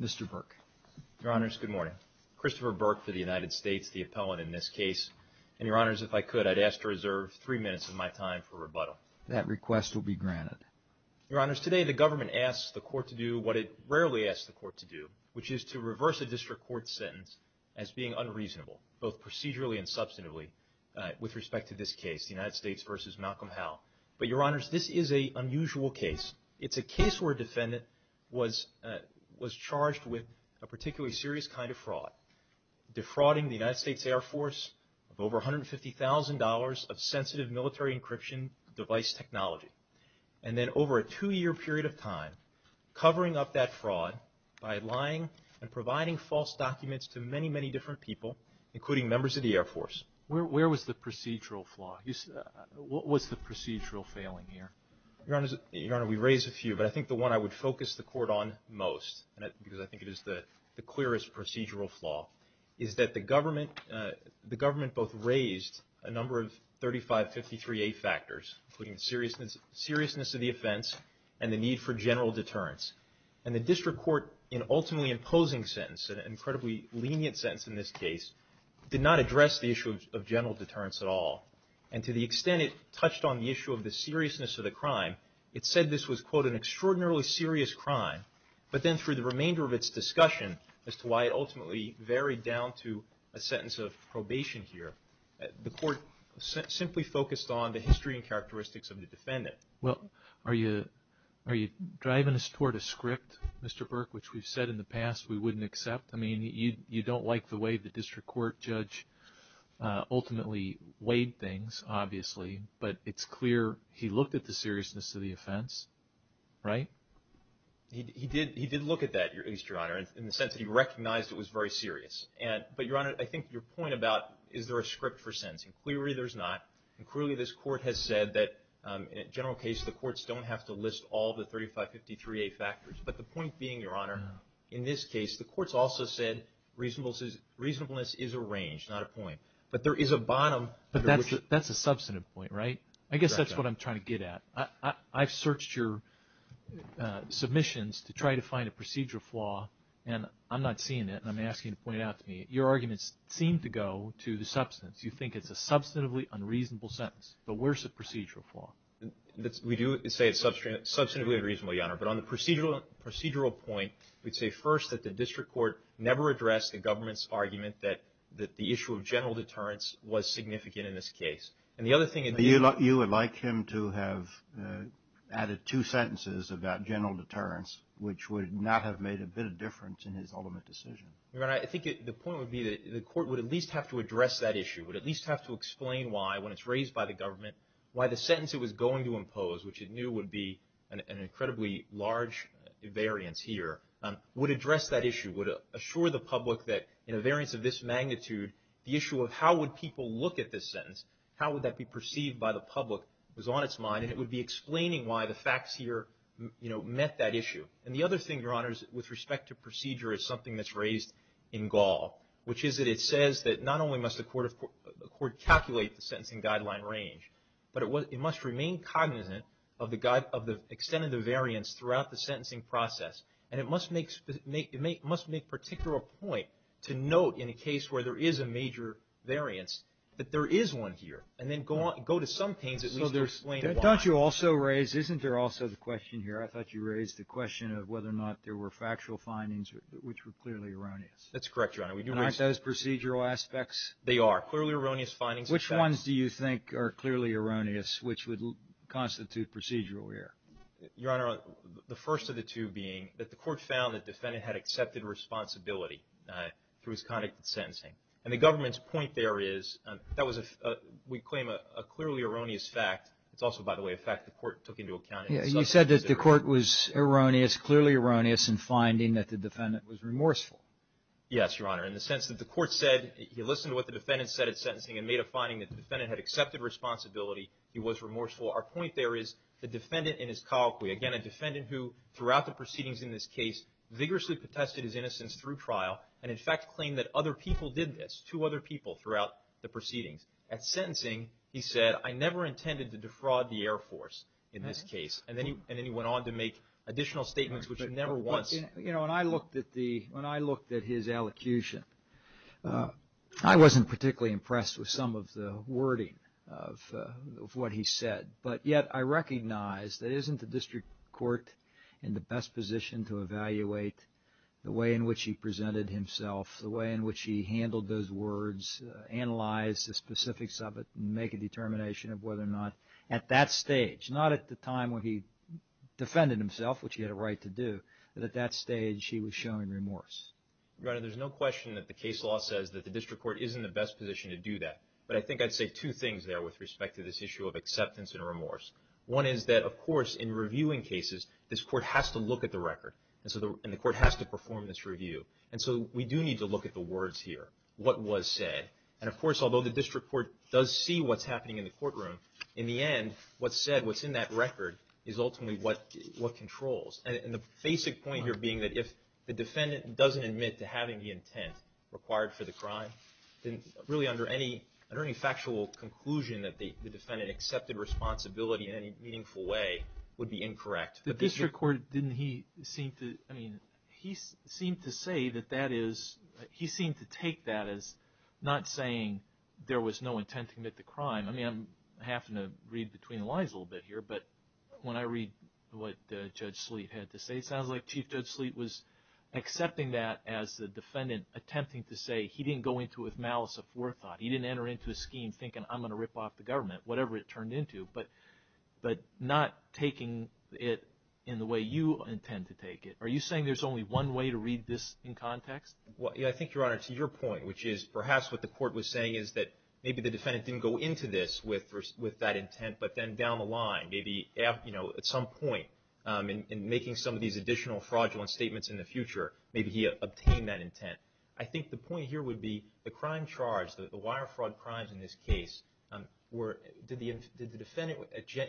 Mr. Burke. Your Honors, good morning. Christopher Burke for the United States, the appellant in this case. And Your Honors, if I could, I'd ask to reserve three minutes of my time for rebuttal. That request will be granted. Your Honors, today the government asks the court to do what it rarely asks the court to do, which is to reverse a district court sentence as being unreasonable, both procedurally and substantively, with respect to this case, the United States v. Malcolm Howe. But Your Honors, this is an unusual case. It's a case where a defendant was charged with a particularly serious kind of fraud, defrauding the United States Air Force of over $150,000 of sensitive military encryption device technology, and then over a two-year period of time, covering up that fraud by lying and providing false documents to many, many different people, including members of the Air Force. Where was the procedural flaw? What was the procedural failing here? Your Honors, we raised a few, but I think the one I would focus the court on most, because I think it is the clearest procedural flaw, is that the government both raised a number of 3553A factors, including seriousness of the offense and the need for general deterrence. And the district court, in an ultimately imposing sentence, an incredibly lenient sentence in this case, did not address the issue of general deterrence at all. And to the extent it touched on the issue of the seriousness of the crime, it said this was, quote, an extraordinarily serious crime. But then through the remainder of its discussion as to why it ultimately varied down to a sentence of probation here, the court simply focused on the history and characteristics of the defendant. Well, are you driving us toward a script, Mr. Burke, which we've said in the past we don't like the way the district court judge ultimately weighed things, obviously, but it's clear he looked at the seriousness of the offense, right? He did look at that, at least, Your Honor, in the sense that he recognized it was very serious. But, Your Honor, I think your point about is there a script for sentencing, clearly there's not. And clearly this court has said that in a general case the courts don't have to list all the 3553A factors. But the point being, Your Honor, in this case the courts also said reasonableness is a range, not a point. But there is a bottom. But that's a substantive point, right? I guess that's what I'm trying to get at. I've searched your submissions to try to find a procedural flaw, and I'm not seeing it, and I'm asking you to point it out to me. Your arguments seem to go to the substance. You think it's a substantively unreasonable sentence. But where's the procedural flaw? We do say it's substantively unreasonable, Your Honor. But on the procedural point, we'd say first that the district court never addressed the government's argument that the issue of general deterrence was significant in this case. And the other thing it did... You would like him to have added two sentences about general deterrence, which would not have made a bit of difference in his ultimate decision. Your Honor, I think the point would be that the court would at least have to address that issue, would at least have to explain why, when it's raised by the government, why the would address that issue, would assure the public that in a variance of this magnitude, the issue of how would people look at this sentence, how would that be perceived by the public was on its mind, and it would be explaining why the facts here met that issue. And the other thing, Your Honor, is with respect to procedure is something that's raised in Gall, which is that it says that not only must a court calculate the sentencing guideline range, but it must remain cognizant of the extent of the variance throughout the sentencing process, and it must make particular point to note in a case where there is a major variance that there is one here, and then go to some pains at least to explain why. Don't you also raise, isn't there also the question here, I thought you raised the question of whether or not there were factual findings which were clearly erroneous. That's correct, Your Honor. Aren't those procedural aspects? They are. Clearly erroneous findings. Which ones do you think are clearly erroneous, which would constitute procedural here? Your Honor, the first of the two being that the court found that the defendant had accepted responsibility through his conduct in sentencing, and the government's point there is, that was, we claim, a clearly erroneous fact. It's also, by the way, a fact the court took into account in itself. You said that the court was erroneous, clearly erroneous, in finding that the defendant was remorseful. Yes, Your Honor, in the sense that the court said, he listened to what the defendant said at sentencing and made a finding that the defendant had accepted responsibility, he was remorseful. Our point there is, the defendant in his colloquy, again, a defendant who, throughout the proceedings in this case, vigorously protested his innocence through trial, and in fact, claimed that other people did this, two other people throughout the proceedings. At sentencing, he said, I never intended to defraud the Air Force in this case. And then he went on to make additional statements, which he never wants. You know, when I looked at his elocution, I wasn't particularly impressed with some of the wording of what he said. But yet, I recognize that isn't the district court in the best position to evaluate the way in which he presented himself, the way in which he handled those words, analyze the specifics of it, and make a determination of whether or not, at that stage, not at the time when he defended himself, which he had a right to do, but at that stage, he was showing remorse. Your Honor, there's no question that the case law says that the district court is in the best position to do that. But I think I'd say two things there with respect to this issue of acceptance and remorse. One is that, of course, in reviewing cases, this court has to look at the record, and the court has to perform this review. And so we do need to look at the words here, what was said. And of course, although the district court does see what's happening in the courtroom, in the end, what's said, what's in that record, is ultimately what controls. And the basic point here being that if the defendant doesn't admit to having the intent required for the crime, then really under any factual conclusion that the defendant accepted responsibility in any meaningful way would be incorrect. The district court, didn't he seem to, I mean, he seemed to say that that is, he seemed to take that as not saying there was no intent to commit the crime. I mean, I'm having to read between the lines a little bit here. But when I read what Judge Sleet had to say, it sounds like Chief Judge Sleet was accepting that as the defendant attempting to say he didn't go into it with malice of forethought. He didn't enter into a scheme thinking, I'm going to rip off the government, whatever it turned into, but not taking it in the way you intend to take it. Are you saying there's only one way to read this in context? Well, I think, Your Honor, to your point, which is perhaps what the court was saying is that maybe the defendant didn't go into this with that intent, but then down the line, maybe at some point in making some of these additional fraudulent statements in the future, maybe he obtained that intent. I think the point here would be the crime charge, the wire fraud crimes in this case, were, did the defendant,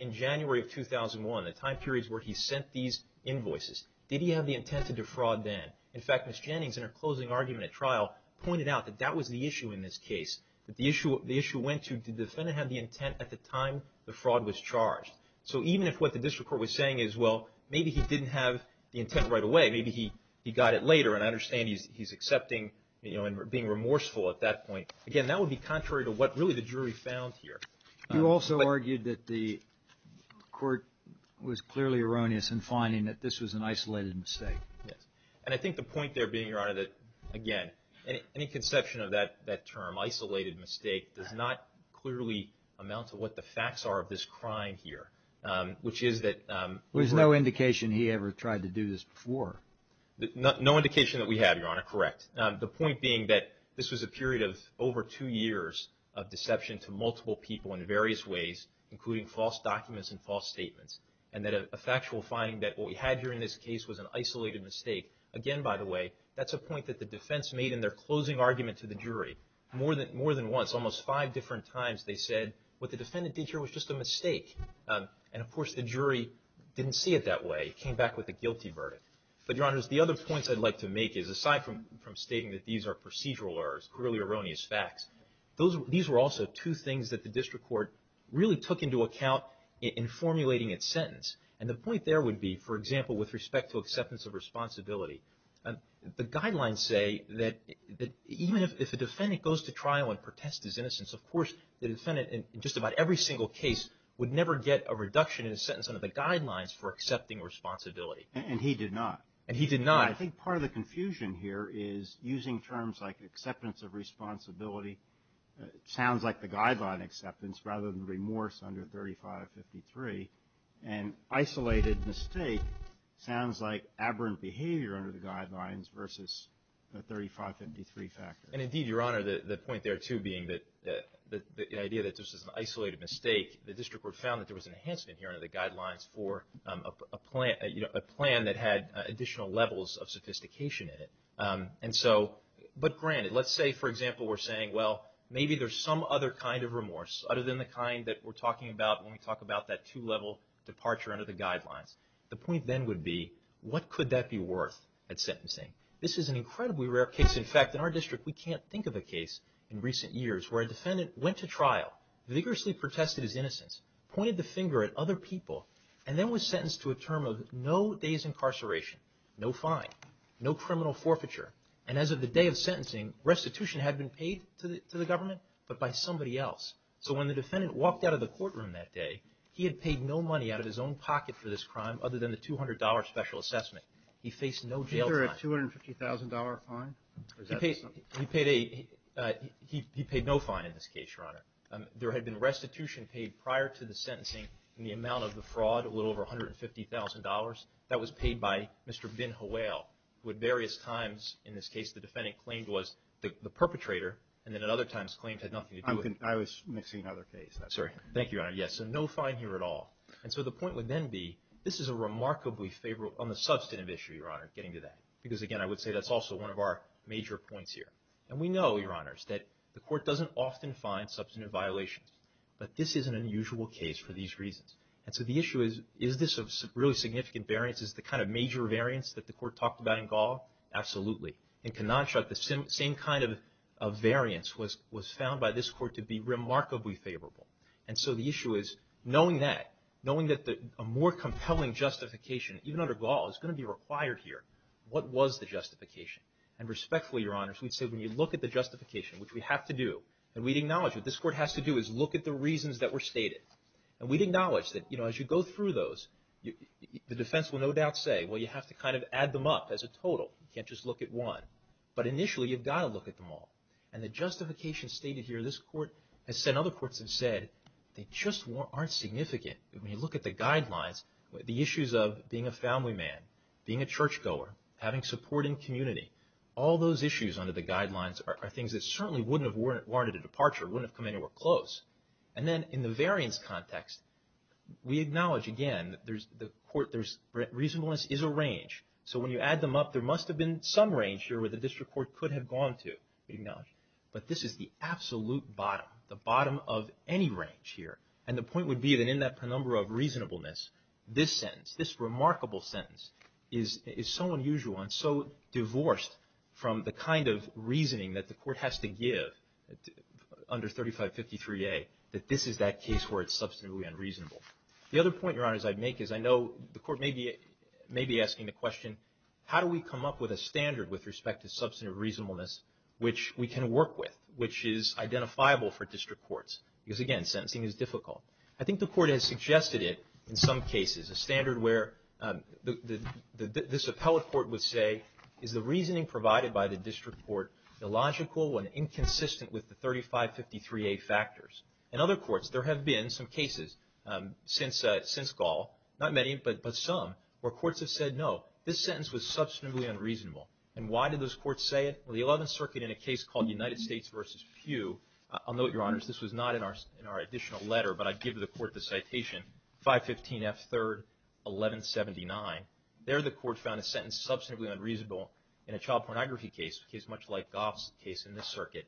in January of 2001, the time periods where he sent these invoices, did he have the intent to defraud then? In fact, Ms. Jennings, in her closing argument at trial, pointed out that that was the issue in this case, that the issue went to did the defendant have the intent at the time the fraud was charged? So even if what the district court was saying is, well, maybe he didn't have the intent right away, maybe he got it later, and I understand he's accepting and being remorseful at that point. Again, that would be contrary to what really the jury found here. You also argued that the court was clearly erroneous in finding that this was an isolated mistake. Yes. And I think the point there being, Your Honor, that, again, any conception of that term, isolated mistake, does not clearly amount to what the facts are of this crime here, which is that- There's no indication he ever tried to do this before. No indication that we have, Your Honor. Correct. The point being that this was a period of over two years of deception to multiple people in various ways, including false documents and false statements, and that a factual finding that what we had here in this case was an isolated mistake, again, by the way, that's a point that the defense made in their closing argument to the jury. More than once, almost five different times, they said what the defendant did here was just a mistake. And, of course, the jury didn't see it that way, came back with a guilty verdict. But, Your Honors, the other points I'd like to make is, aside from stating that these are procedural errors, clearly erroneous facts, these were also two things that the district court really took into account in formulating its sentence. And the point there would be, for example, with respect to acceptance of responsibility, the guidelines say that even if a defendant goes to trial and protests his innocence, of course, the defendant in just about every single case would never get a reduction in his sentence under the guidelines for accepting responsibility. And he did not. And he did not. I think part of the confusion here is using terms like acceptance of responsibility sounds like the guideline acceptance rather than remorse under 3553. And isolated mistake sounds like aberrant behavior under the guidelines versus the 3553 factor. And, indeed, Your Honor, the point there, too, being that the idea that this is an isolated mistake, the district court found that there was an enhancement here under the guidelines for a plan that had additional levels of sophistication in it. And so, but granted, let's say, for example, we're saying, well, maybe there's some other kind of remorse other than the kind that we're talking about when we talk about that two-level departure under the guidelines. The point then would be, what could that be worth at sentencing? This is an incredibly rare case. In fact, in our district, we can't think of a case in recent years where a defendant went to trial, vigorously protested his innocence, pointed the finger at other people, and then was sentenced to a term of no days incarceration, no fine, no criminal forfeiture. And as of the day of sentencing, restitution had been paid to the government, but by somebody else. So when the defendant walked out of the courtroom that day, he had paid no money out of his own pocket for this crime other than the $200 special assessment. He faced no jail time. $250,000 fine? He paid a, he paid no fine in this case, Your Honor. There had been restitution paid prior to the sentencing in the amount of the fraud, a little over $150,000. That was paid by Mr. Bin Hawail, who at various times, in this case, the defendant claimed was the perpetrator, and then at other times claimed had nothing to do with it. I was mixing other cases. Sorry. Thank you, Your Honor. Yes, so no fine here at all. And so the point would then be, this is a remarkably favorable, on the substantive issue, Your Honor, because, again, I would say that's also one of our major points here. And we know, Your Honors, that the court doesn't often find substantive violations, but this is an unusual case for these reasons. And so the issue is, is this a really significant variance? Is it the kind of major variance that the court talked about in Gall? Absolutely. In Kenansha, the same kind of variance was found by this court to be remarkably favorable. And so the issue is, knowing that, knowing that a more compelling justification, even under Gall, is going to be required here, what was the justification? And respectfully, Your Honors, we'd say when you look at the justification, which we have to do, and we'd acknowledge what this court has to do is look at the reasons that were stated, and we'd acknowledge that, you know, as you go through those, the defense will no doubt say, well, you have to kind of add them up as a total. You can't just look at one. But initially, you've got to look at them all. And the justification stated here, this court has said, other courts have said, they just aren't significant. When you look at the guidelines, the issues of being a family man, being a churchgoer, having support in community, all those issues under the guidelines are things that certainly wouldn't have warranted a departure, wouldn't have come anywhere close. And then in the variance context, we acknowledge, again, that there's, the court, there's, reasonableness is a range. So when you add them up, there must have been some range here where the district court could have gone to, we'd acknowledge. But this is the absolute bottom, the bottom of any range here. And the point would be that in that number of reasonableness, this sentence, this remarkable sentence is, is so unusual and so divorced from the kind of reasoning that the court has to give under 3553A, that this is that case where it's substantively unreasonable. The other point, Your Honors, I'd make is I know the court may be, may be asking the question, how do we come up with a standard with respect to substantive reasonableness which we can work with, which is identifiable for district courts? Because again, sentencing is difficult. I think the court has suggested it in some cases, a standard where the, the, this appellate court would say, is the reasoning provided by the district court illogical and inconsistent with the 3553A factors? In other courts, there have been some cases since, since Gall, not many, but, but some, where courts have said, no, this sentence was substantively unreasonable. And why did those courts say it? Well, the 11th Circuit in a case called United States versus Pew, I'll note, Your Honors, this was not in our, in our additional letter, but I'd give the court the citation, 515F3-1179. There the court found a sentence substantively unreasonable in a child pornography case, a case much like Gall's case in this circuit,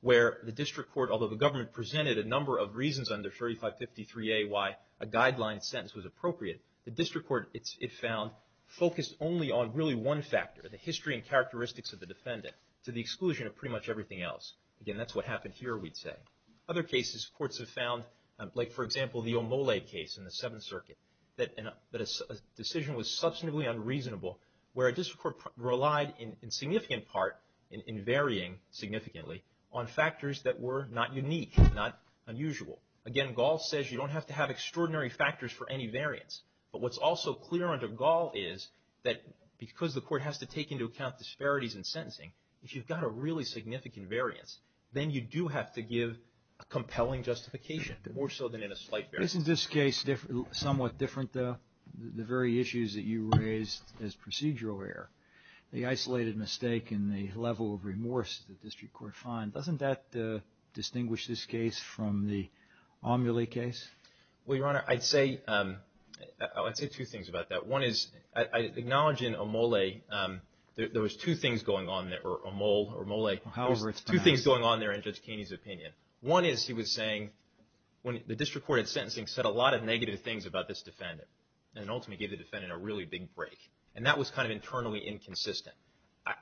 where the district court, although the government presented a number of reasons under 3553A why a guideline sentence was appropriate, the district court, it's, it found, focused only on really one factor, the history and characteristics of the defendant, to the exclusion of pretty much everything else. Again, that's what happened here, we'd say. Other cases, courts have found, like, for example, the Omole case in the 7th Circuit, that a, that a decision was substantively unreasonable, where a district court relied in, in significant part, in, in varying significantly, on factors that were not unique, not unusual. Again, Gall says you don't have to have extraordinary factors for any variance. But what's also clear under Gall is that because the court has to take into account disparities in sentencing, if you've got a really significant variance, then you do have to give a compelling justification, more so than in a slight variance. Isn't this case somewhat different, though, the very issues that you raised as procedural error? The isolated mistake and the level of remorse the district court finds, doesn't that distinguish this case from the Omole case? Well, Your Honor, I'd say, I'd say two things about that. One is, I, I acknowledge in Omole, there, there was two things going on there, or Omole, or Omole. However, it's time. Two things going on there in Judge Keeney's opinion. One is, he was saying, when the district court had sentencing, said a lot of negative things about this defendant, and ultimately gave the defendant a really big break. And that was kind of internally inconsistent.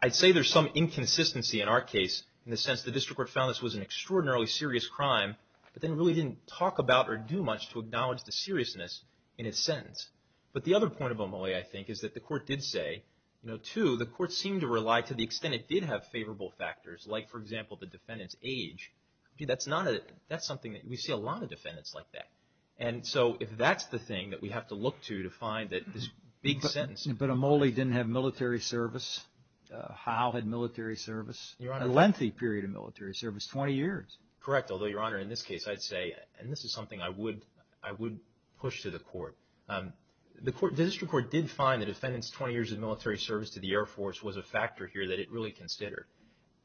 I'd say there's some inconsistency in our case, in the sense the district court found this was an extraordinarily serious crime, but then really didn't talk about or do much to acknowledge the seriousness in its sentence. But the other point of Omole, I think, is that the court did say, you know, two, the court seemed to rely to the extent it did have favorable factors, like, for example, the defendant's age. I mean, that's not a, that's something that we see a lot of defendants like that. And so, if that's the thing that we have to look to, to find that this big sentence. But Omole didn't have military service. How? Had military service. Your Honor. A lengthy period of military service, 20 years. Correct. Although, Your Honor, in this case, I'd say, and this is something I would, I would push to the court, the court, the district court did find the defendant's 20 years of military service to the Air Force was a factor here that it really considered.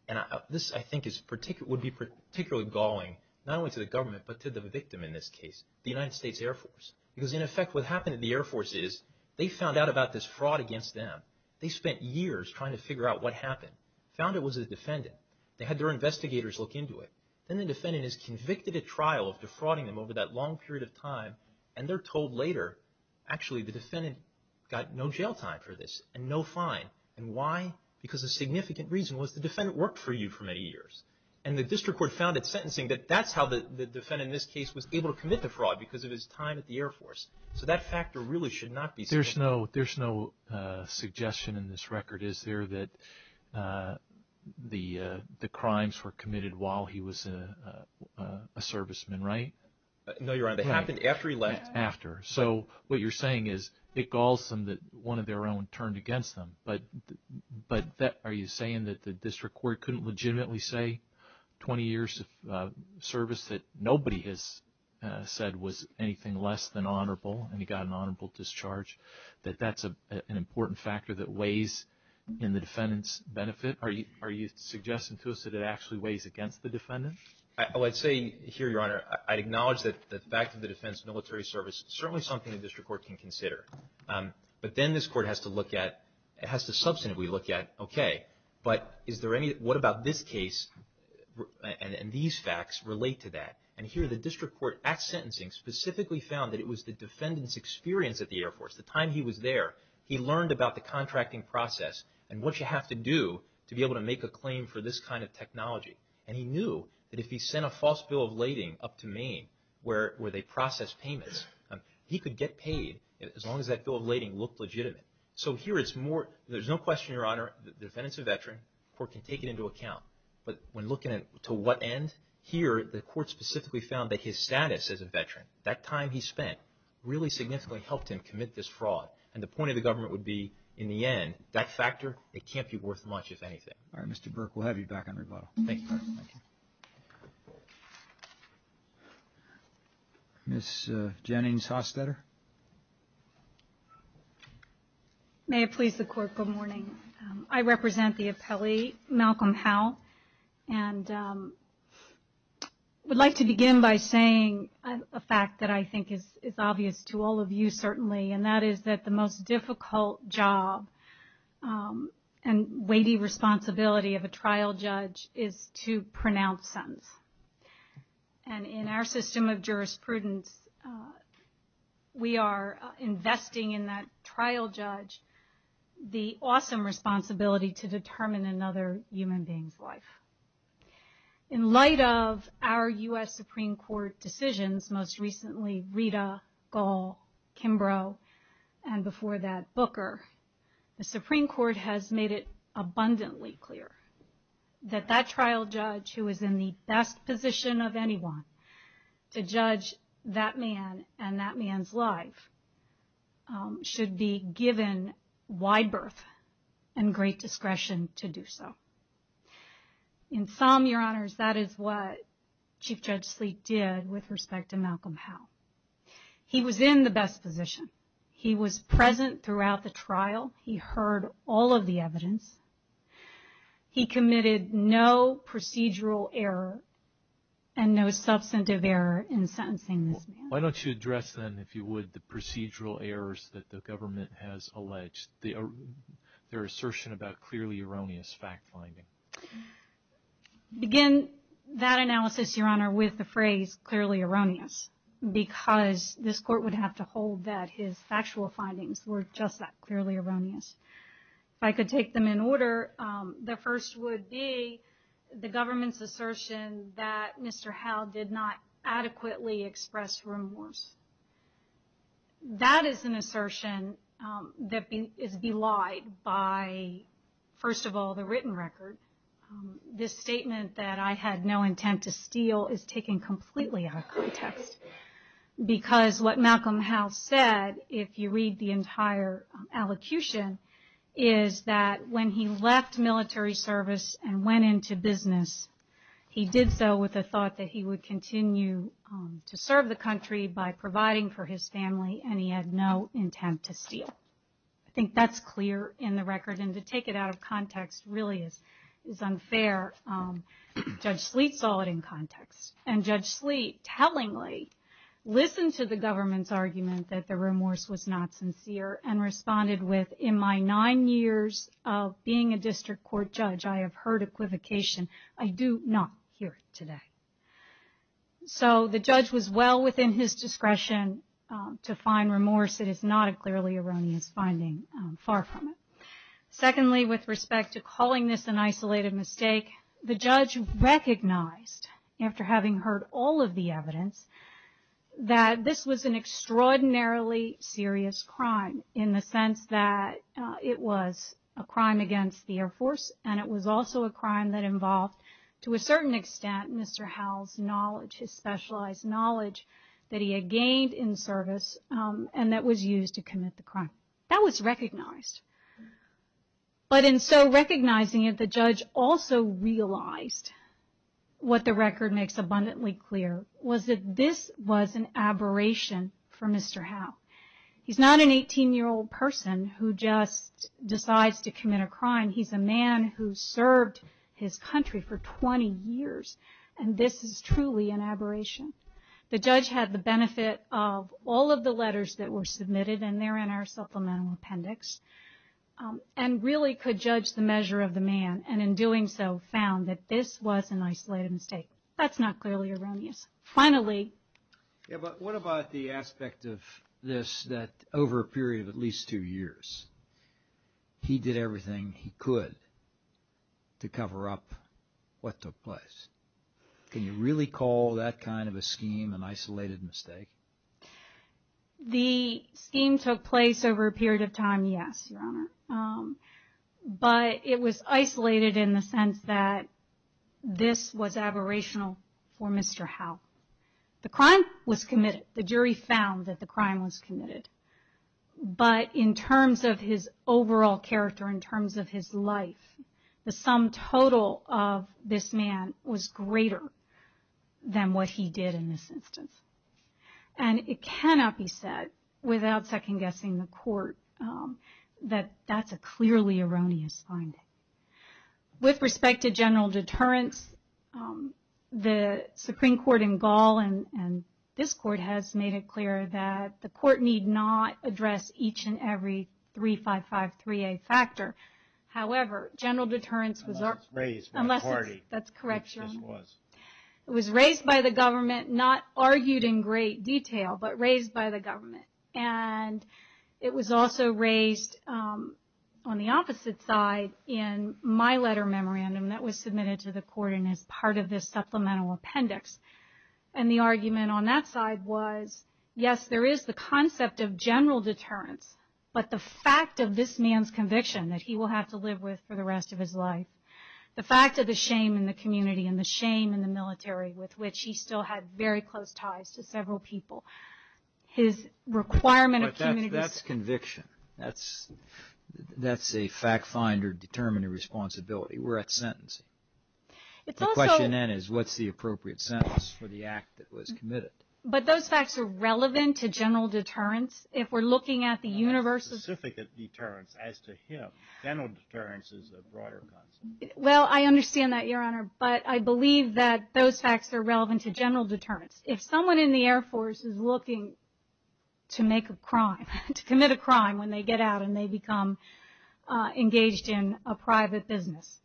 And this, I think, is particularly, would be particularly galling, not only to the government, but to the victim in this case, the United States Air Force. Because, in effect, what happened to the Air Force is, they found out about this fraud against them. They spent years trying to figure out what happened, found it was the defendant. They had their investigators look into it. Then the defendant is convicted at trial of defrauding them over that long period of time, and they're told later, actually, the defendant got no jail time for this, and no fine. And why? Because a significant reason was the defendant worked for you for many years. And the district court found at sentencing that that's how the defendant in this case was able to commit the fraud, because of his time at the Air Force. So that factor really should not be. There's no, there's no suggestion in this record, is there, that the, the crimes were committed while he was a, a, a serviceman, right? No, Your Honor. But it happened after he left. Right. After. So, what you're saying is, it galls them that one of their own turned against them, but, but that, are you saying that the district court couldn't legitimately say 20 years of service that nobody has said was anything less than honorable, and he got an honorable discharge, that that's a, an important factor that weighs in the defendant's benefit? I, oh, I'd say here, Your Honor, I, I'd acknowledge that the fact of the defense military service is certainly something the district court can consider. But then this court has to look at, it has to substantively look at, okay, but is there any, what about this case, and, and these facts relate to that? And here the district court at sentencing specifically found that it was the defendant's experience at the Air Force, the time he was there, he learned about the contracting process and what you have to do to be able to make a claim for this kind of technology. And he knew that if he sent a false bill of lading up to Maine, where, where they process payments, he could get paid as long as that bill of lading looked legitimate. So here it's more, there's no question, Your Honor, the defendant's a veteran, the court can take it into account. But when looking at to what end, here the court specifically found that his status as a veteran, that time he spent, really significantly helped him commit this fraud. And the point of the government would be, in the end, that factor, it can't be worth much, if anything. All right, Mr. Burke, we'll have you back on rebuttal. Thank you, Your Honor. Ms. Jennings-Hostetter? May it please the Court, good morning. I represent the appellee, Malcolm Howe. And would like to begin by saying a fact that I think is, is obvious to all of you, certainly, and that is that the most difficult job and weighty responsibility of a trial judge is to pronounce sentence. And in our system of jurisprudence, we are investing in that trial judge the awesome responsibility to determine another human being's life. In light of our U.S. Supreme Court decisions, most recently Rita, Gall, Kimbrough, and before that Booker, the Supreme Court has made it abundantly clear that that trial judge, who is in the best position of anyone to judge that man and that man's life, should be given wide berth and great discretion to do so. In sum, Your Honors, that is what Chief Judge Sleek did with respect to Malcolm Howe. He was in the best position. He was present throughout the trial. He heard all of the evidence. He committed no procedural error and no substantive error in sentencing this man. Why don't you address, then, if you would, the procedural errors that the government has alleged, their assertion about clearly erroneous fact finding? Begin that analysis, Your Honor, with the phrase, clearly erroneous, because this court would have to hold that his factual findings were just that, clearly erroneous. If I could take them in order, the first would be the government's assertion that Mr. Howe did not adequately express remorse. That is an assertion that is belied by, first of all, the written record. This statement that I had no intent to steal is taken completely out of context, because what Malcolm Howe said, if you read the entire allocution, is that when he left military service and went into business, he did so with the thought that he would continue to serve the country by providing for his family, and he had no intent to steal. I think that's clear in the record, and to take it out of context really is unfair. Judge Sleet saw it in context, and Judge Sleet tellingly listened to the government's argument that the remorse was not sincere, and responded with, in my nine years of being a district court judge, I have heard equivocation, I do not hear it today. So the judge was well within his discretion to find remorse. It is not a clearly erroneous finding, far from it. Secondly, with respect to calling this an isolated mistake, the judge recognized, after having heard all of the evidence, that this was an extraordinarily serious crime, in the course, and it was also a crime that involved, to a certain extent, Mr. Howe's knowledge, his specialized knowledge, that he had gained in service, and that was used to commit the crime. That was recognized, but in so recognizing it, the judge also realized what the record makes abundantly clear, was that this was an aberration for Mr. Howe. He's not an 18-year-old person who just decides to commit a crime, he's a man who served his country for 20 years, and this is truly an aberration. The judge had the benefit of all of the letters that were submitted, and they're in our supplemental appendix, and really could judge the measure of the man, and in doing so, found that this was an isolated mistake. That's not clearly erroneous. Finally... Yeah, but what about the aspect of this, that over a period of at least two years, he did everything he could to cover up what took place? Can you really call that kind of a scheme an isolated mistake? The scheme took place over a period of time, yes, Your Honor, but it was isolated in the The crime was committed, the jury found that the crime was committed, but in terms of his overall character, in terms of his life, the sum total of this man was greater than what he did in this instance, and it cannot be said without second-guessing the court that that's a clearly erroneous finding. With respect to general deterrence, the Supreme Court in Gaul and this court has made it clear that the court need not address each and every 3553A factor, however, general deterrence was... Unless it's raised by a party. That's correct, Your Honor. Which it was. It was raised by the government, not argued in great detail, but raised by the government, and it was also raised on the opposite side in my letter memorandum that was submitted to the court and is part of this supplemental appendix, and the argument on that side was, yes, there is the concept of general deterrence, but the fact of this man's conviction that he will have to live with for the rest of his life, the fact of the shame in the community and the shame in the military with which he still had very close ties to several people, his requirement of community... But that's conviction. That's a fact-finder determining responsibility. We're at sentencing. It's also... The question then is, what's the appropriate sentence for the act that was committed? But those facts are relevant to general deterrence. If we're looking at the universe... Specific deterrence as to him, general deterrence is a broader concept. Well, I understand that, Your Honor, but I believe that those facts are relevant to general deterrence. If someone in the Air Force is looking to make a crime, to commit a crime when they get out and they become engaged in a private business,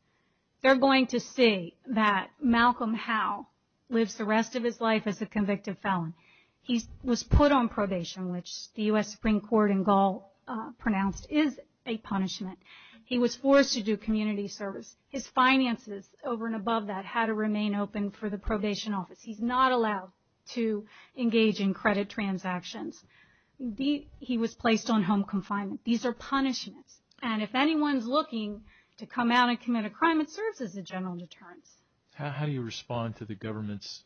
they're going to see that Malcolm Howe lives the rest of his life as a convicted felon. He was put on probation, which the U.S. Supreme Court in Gaul pronounced is a punishment. He was forced to do community service. His finances over and above that had to remain open for the probation office. He's not allowed to engage in credit transactions. He was placed on home confinement. These are punishments. And if anyone's looking to come out and commit a crime, it serves as a general deterrence. How do you respond to the government's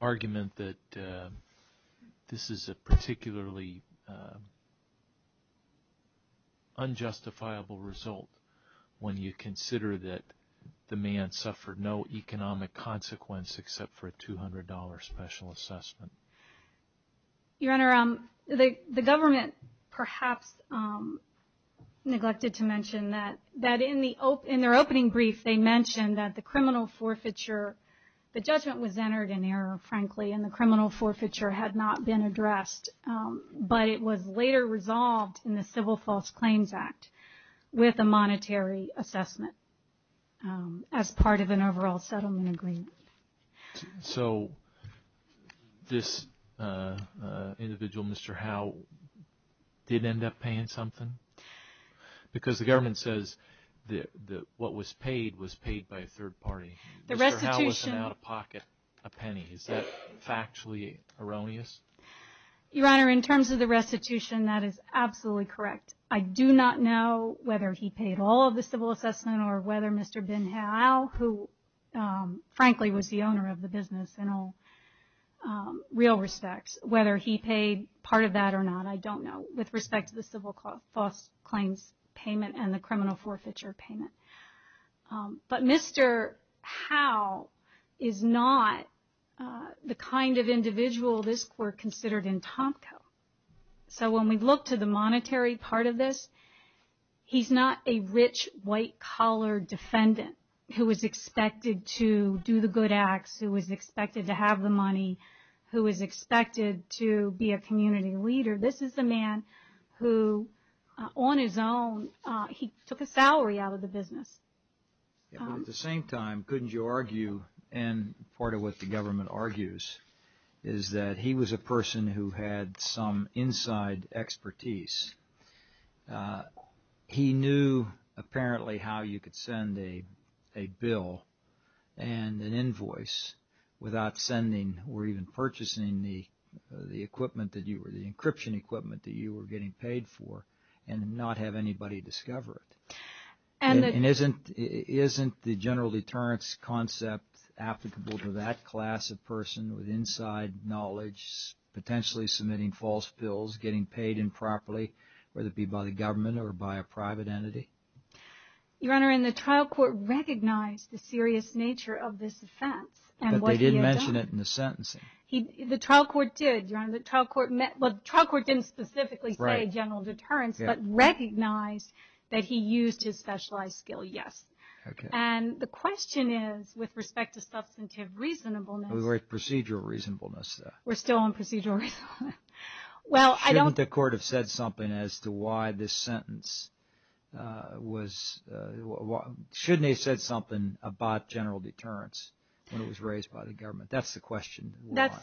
argument that this is a particularly unjustifiable result when you consider that the man suffered no economic consequence except for a $200 special assessment? Your Honor, the government perhaps neglected to mention that in their opening brief, they mentioned that the criminal forfeiture, the judgment was entered in error, frankly, and the criminal forfeiture had not been addressed. But it was later resolved in the Civil False Claims Act with a monetary assessment as part of an overall settlement agreement. So this individual, Mr. Howe, did end up paying something? Because the government says that what was paid was paid by a third party. Mr. Howe was an out-of-pocket penny. Is that factually erroneous? Your Honor, in terms of the restitution, that is absolutely correct. I do not know whether he paid all of the civil assessment or whether Mr. Ben Howe, who frankly was the owner of the business in all real respects, whether he paid part of that or not, I don't know, with respect to the Civil False Claims payment and the criminal forfeiture payment. But Mr. Howe is not the kind of individual this Court considered in Tomko. So when we look to the monetary part of this, he's not a rich, white-collar defendant who was expected to do the good acts, who was expected to have the money, who was expected to be a community leader. This is a man who, on his own, he took a salary out of the business. At the same time, couldn't you argue, and part of what the government argues, is that he was a person who had some inside expertise. He knew apparently how you could send a bill and an invoice without sending or even purchasing the equipment that you were, the encryption equipment that you were getting paid for and not have anybody discover it. And isn't the general deterrence concept applicable to that class of person with inside knowledge, potentially submitting false bills, getting paid improperly, whether it be by the government or by a private entity? Your Honor, and the trial court recognized the serious nature of this offense and what he had done. The trial court did, Your Honor. The trial court didn't specifically say general deterrence, but recognized that he used his specialized skill, yes. And the question is, with respect to substantive reasonableness. We're at procedural reasonableness. We're still on procedural reasonableness. Shouldn't the court have said something about general deterrence when it was raised by the government? That's the question. That's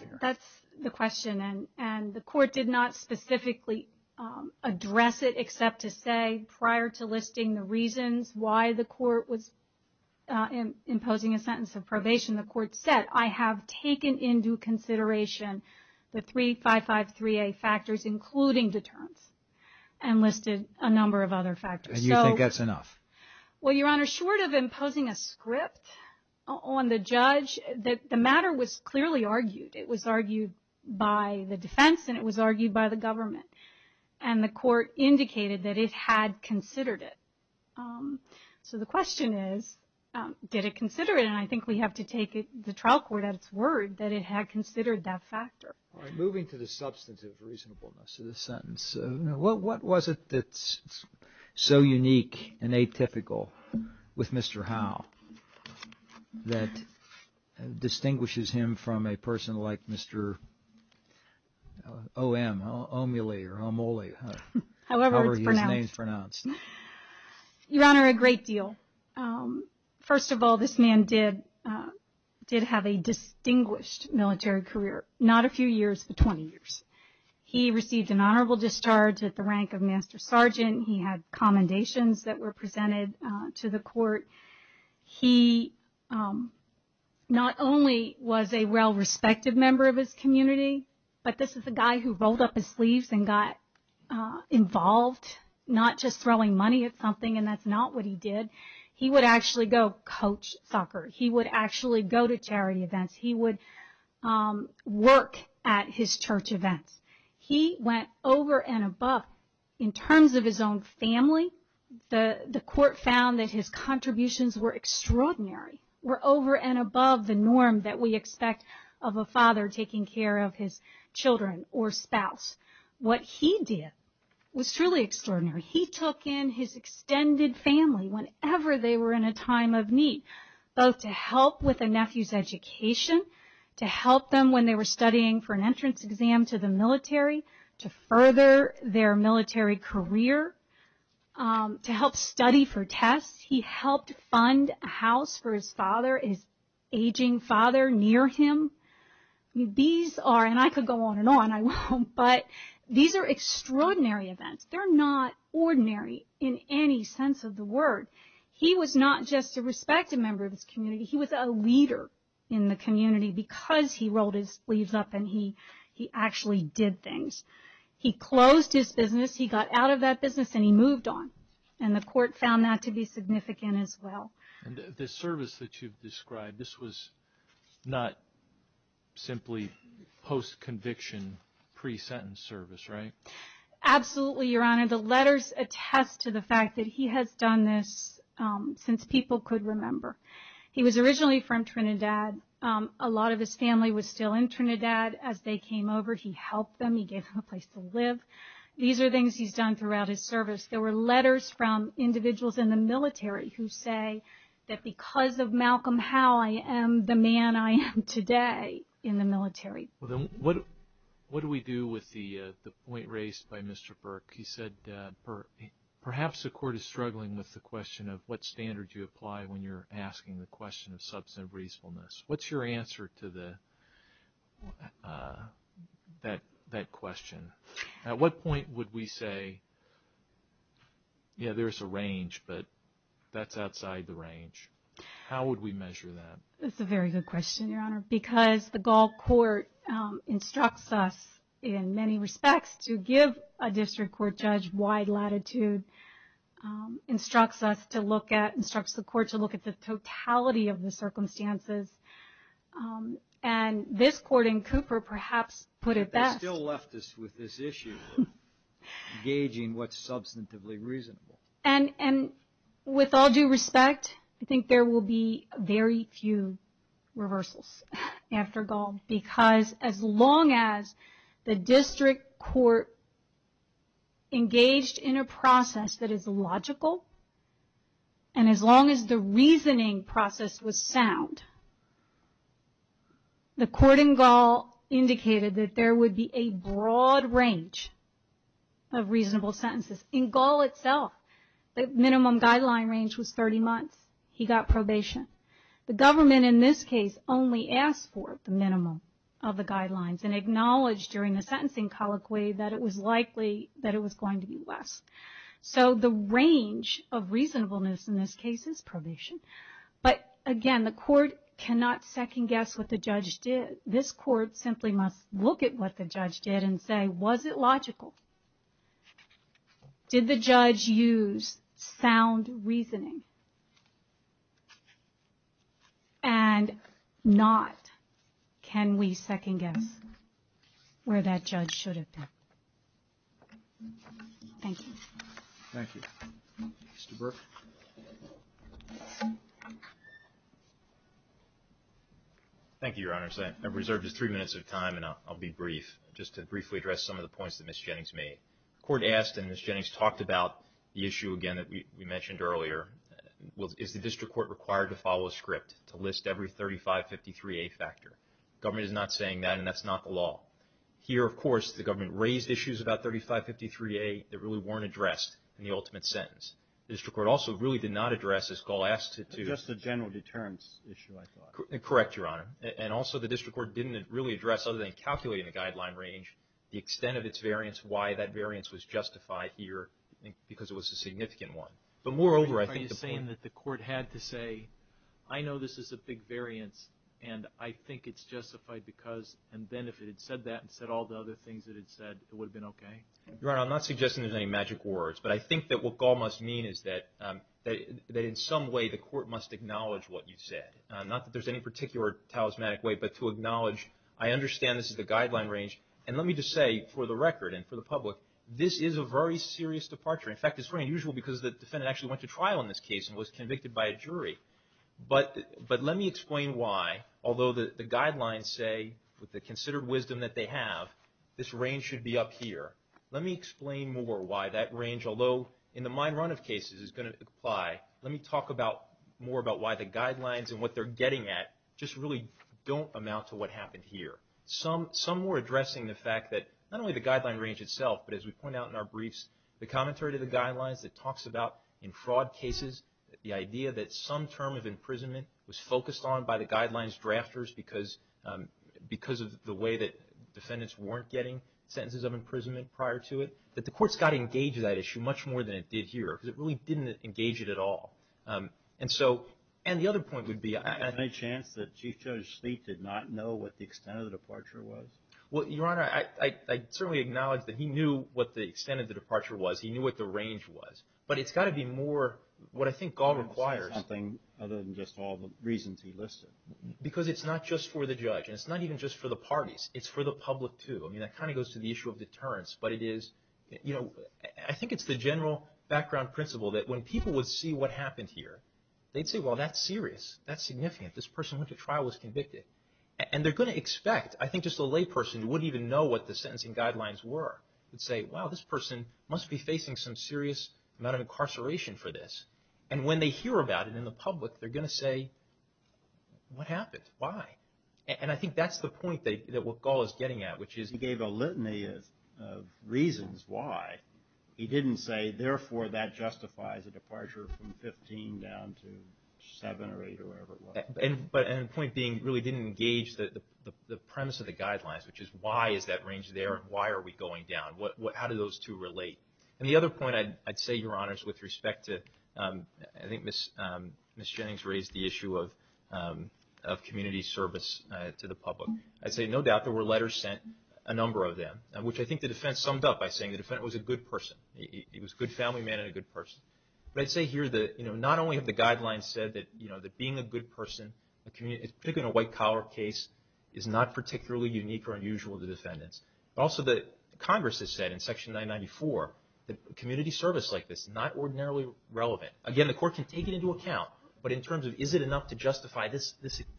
the question, and the court did not specifically address it, except to say prior to listing the reasons why the court was imposing a sentence of probation, the court said, I have taken into consideration the three 553A factors, including deterrence, and listed a number of other factors. And you think that's enough? Well, Your Honor, short of imposing a script on the judge, the matter was clearly argued. It was argued by the defense, and it was argued by the government. And the court indicated that it had considered it. So the question is, did it consider it? And I think we have to take the trial court at its word that it had considered that factor. All right, moving to the substantive reasonableness of the sentence. What was it that's so unique and atypical with Mr. Howe that distinguishes him from a person like Mr. O.M., Omily or Omoli, however his name is pronounced? Your Honor, a great deal. First of all, this man did have a distinguished military career, not a few years, but 20 years. He received an honorable discharge at the rank of Master Sergeant. He had commendations that were presented to the court. He not only was a well-respected member of his community, but this is a guy who rolled up his sleeves and got involved, not just throwing money at something, and that's not what he did. He would actually go coach soccer. He would actually go to charity events. He would work at his church events. He went over and above in terms of his own family. The court found that his contributions were extraordinary, were over and above the norm that we expect of a father taking care of his children or spouse. What he did was truly extraordinary. He took in his extended family whenever they were in a time of need, both to help with the nephew's education, to help them when they were studying for an entrance exam to the military, to further their military career, to help study for tests. He helped fund a house for his father and his aging father near him. These are, and I could go on and on, I won't, but these are extraordinary events. They're not ordinary in any sense of the word. He was not just a respected member of his community. He was a leader in the community because he rolled his sleeves up and he actually did things. He closed his business, he got out of that business, and he moved on, and the court found that to be significant as well. The service that you've described, this was not simply post-conviction pre-sentence service, right? Absolutely, Your Honor. The letters attest to the fact that he has done this since people could remember. He was originally from Trinidad. A lot of his family was still in Trinidad as they came over. He helped them. He gave them a place to live. These are things he's done throughout his service. There were letters from individuals in the military who say that because of Malcolm Howe, I am the man I am today in the military. What do we do with the point raised by Mr. Burke? He said perhaps the court is struggling with the question of what standard you apply when you're asking the question of substantive reasonableness. What's your answer to that question? At what point would we say, yeah, there's a range, but that's outside the range? How would we measure that? That's a very good question, Your Honor, because the Gall Court instructs us in many respects to give a district court judge wide latitude, instructs the court to look at the totality of the circumstances, and this court in Cooper perhaps put it best. They still left us with this issue of gauging what's substantively reasonable. With all due respect, I think there will be very few reversals after Gall, because as long as the district court engaged in a process that is logical and as long as the reasoning process was sound, the court in Gall indicated that there would be a broad range of reasonable sentences. In Gall itself, the minimum guideline range was 30 months. He got probation. The government in this case only asked for the minimum of the guidelines and acknowledged during the sentencing colloquy that it was likely that it was going to be less. So the range of reasonableness in this case is probation. But again, the court cannot second-guess what the judge did. This court simply must look at what the judge did and say, was it logical? Did the judge use sound reasoning? And not can we second-guess where that judge should have been. Thank you. Thank you. Mr. Burke. Thank you, Your Honors. I've reserved just three minutes of time, and I'll be brief, just to briefly address some of the points that Ms. Jennings made. The court asked, and Ms. Jennings talked about the issue again that we mentioned earlier, is the district court required to follow a script to list every 3553A factor? The government is not saying that, and that's not the law. Here, of course, the government raised issues about 3553A that really weren't addressed in the ultimate sentence. The district court also really did not address, as Gall asked it to. Just the general deterrence issue, I thought. Correct, Your Honor. And also the district court didn't really address, other than calculating the guideline range, the extent of its variance, why that variance was justified here, because it was a significant one. But moreover, I think the point. Are you saying that the court had to say, I know this is a big variance, and I think it's justified because, and then if it had said that and said all the other things that it said, it would have been okay? Your Honor, I'm not suggesting there's any magic words, but I think that what Gall must mean is that in some way, the court must acknowledge what you said. Not that there's any particular talismanic way, but to acknowledge, I understand this is the guideline range, and let me just say, for the record and for the public, this is a very serious departure. In fact, it's very unusual because the defendant actually went to trial in this case and was convicted by a jury. But let me explain why, although the guidelines say, with the considered wisdom that they have, this range should be up here. Let me explain more why that range, although in the mine run of cases, is going to apply. Let me talk more about why the guidelines and what they're getting at just really don't amount to what happened here. Some more addressing the fact that not only the guideline range itself, but as we point out in our briefs, the commentary to the guidelines that talks about, in fraud cases, the idea that some term of imprisonment was focused on by the guidelines drafters because of the way that it was handled prior to it, that the courts got engaged in that issue much more than it did here because it really didn't engage it at all. And the other point would be – Is there any chance that Chief Judge Sleet did not know what the extent of the departure was? Well, Your Honor, I certainly acknowledge that he knew what the extent of the departure was. He knew what the range was. But it's got to be more what I think Gall requires. It's got to be something other than just all the reasons he listed. Because it's not just for the judge, and it's not even just for the parties. It's for the public, too. I mean, that kind of goes to the issue of deterrence. But it is – you know, I think it's the general background principle that when people would see what happened here, they'd say, well, that's serious. That's significant. This person went to trial and was convicted. And they're going to expect – I think just a lay person who wouldn't even know what the sentencing guidelines were would say, wow, this person must be facing some serious amount of incarceration for this. And when they hear about it in the public, they're going to say, what happened? Why? And I think that's the point that what Gall is getting at, which is – He gave a litany of reasons why. He didn't say, therefore, that justifies a departure from 15 down to 7 or 8 or wherever it was. But – and the point being really didn't engage the premise of the guidelines, which is why is that range there and why are we going down? How do those two relate? And the other point I'd say, Your Honors, with respect to – I think Ms. Jennings raised the issue of community service to the public. I'd say no doubt there were letters sent, a number of them, which I think the defense summed up by saying the defendant was a good person. He was a good family man and a good person. But I'd say here that not only have the guidelines said that being a good person, particularly in a white-collar case, is not particularly unique or unusual to defendants, but also that Congress has said in Section 994 that community service like this is not ordinarily relevant. Again, the court can take it into account. But in terms of is it enough to justify this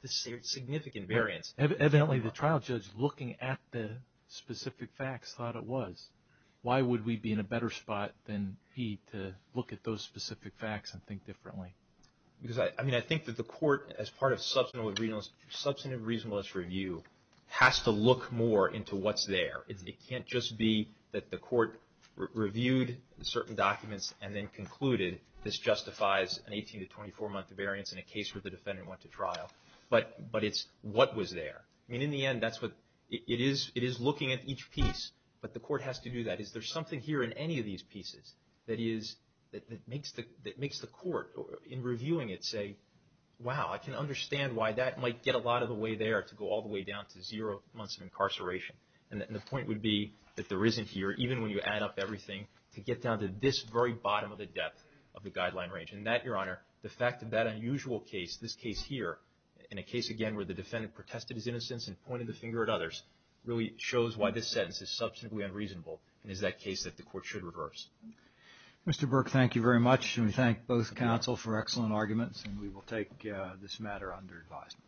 significant variance? Evidently, the trial judge, looking at the specific facts, thought it was. Why would we be in a better spot than he to look at those specific facts and think differently? Because I think that the court, as part of substantive reasonableness review, has to look more into what's there. It can't just be that the court reviewed certain documents and then concluded this justifies an 18- to 24-month variance in a case where the defendant went to trial. But it's what was there. In the end, it is looking at each piece, but the court has to do that. Is there something here in any of these pieces that makes the court, in reviewing it, say, wow, I can understand why that might get a lot of the way there to go all the way down to zero months of incarceration. The point would be that there isn't here, even when you add up everything, to get down to this very bottom of the depth of the guideline range. And that, Your Honor, the fact of that unusual case, this case here, in a case, again, where the defendant protested his innocence and pointed the finger at others, really shows why this sentence is substantively unreasonable and is that case that the court should reverse. Mr. Burke, thank you very much. We thank both counsel for excellent arguments, and we will take this matter under advisement.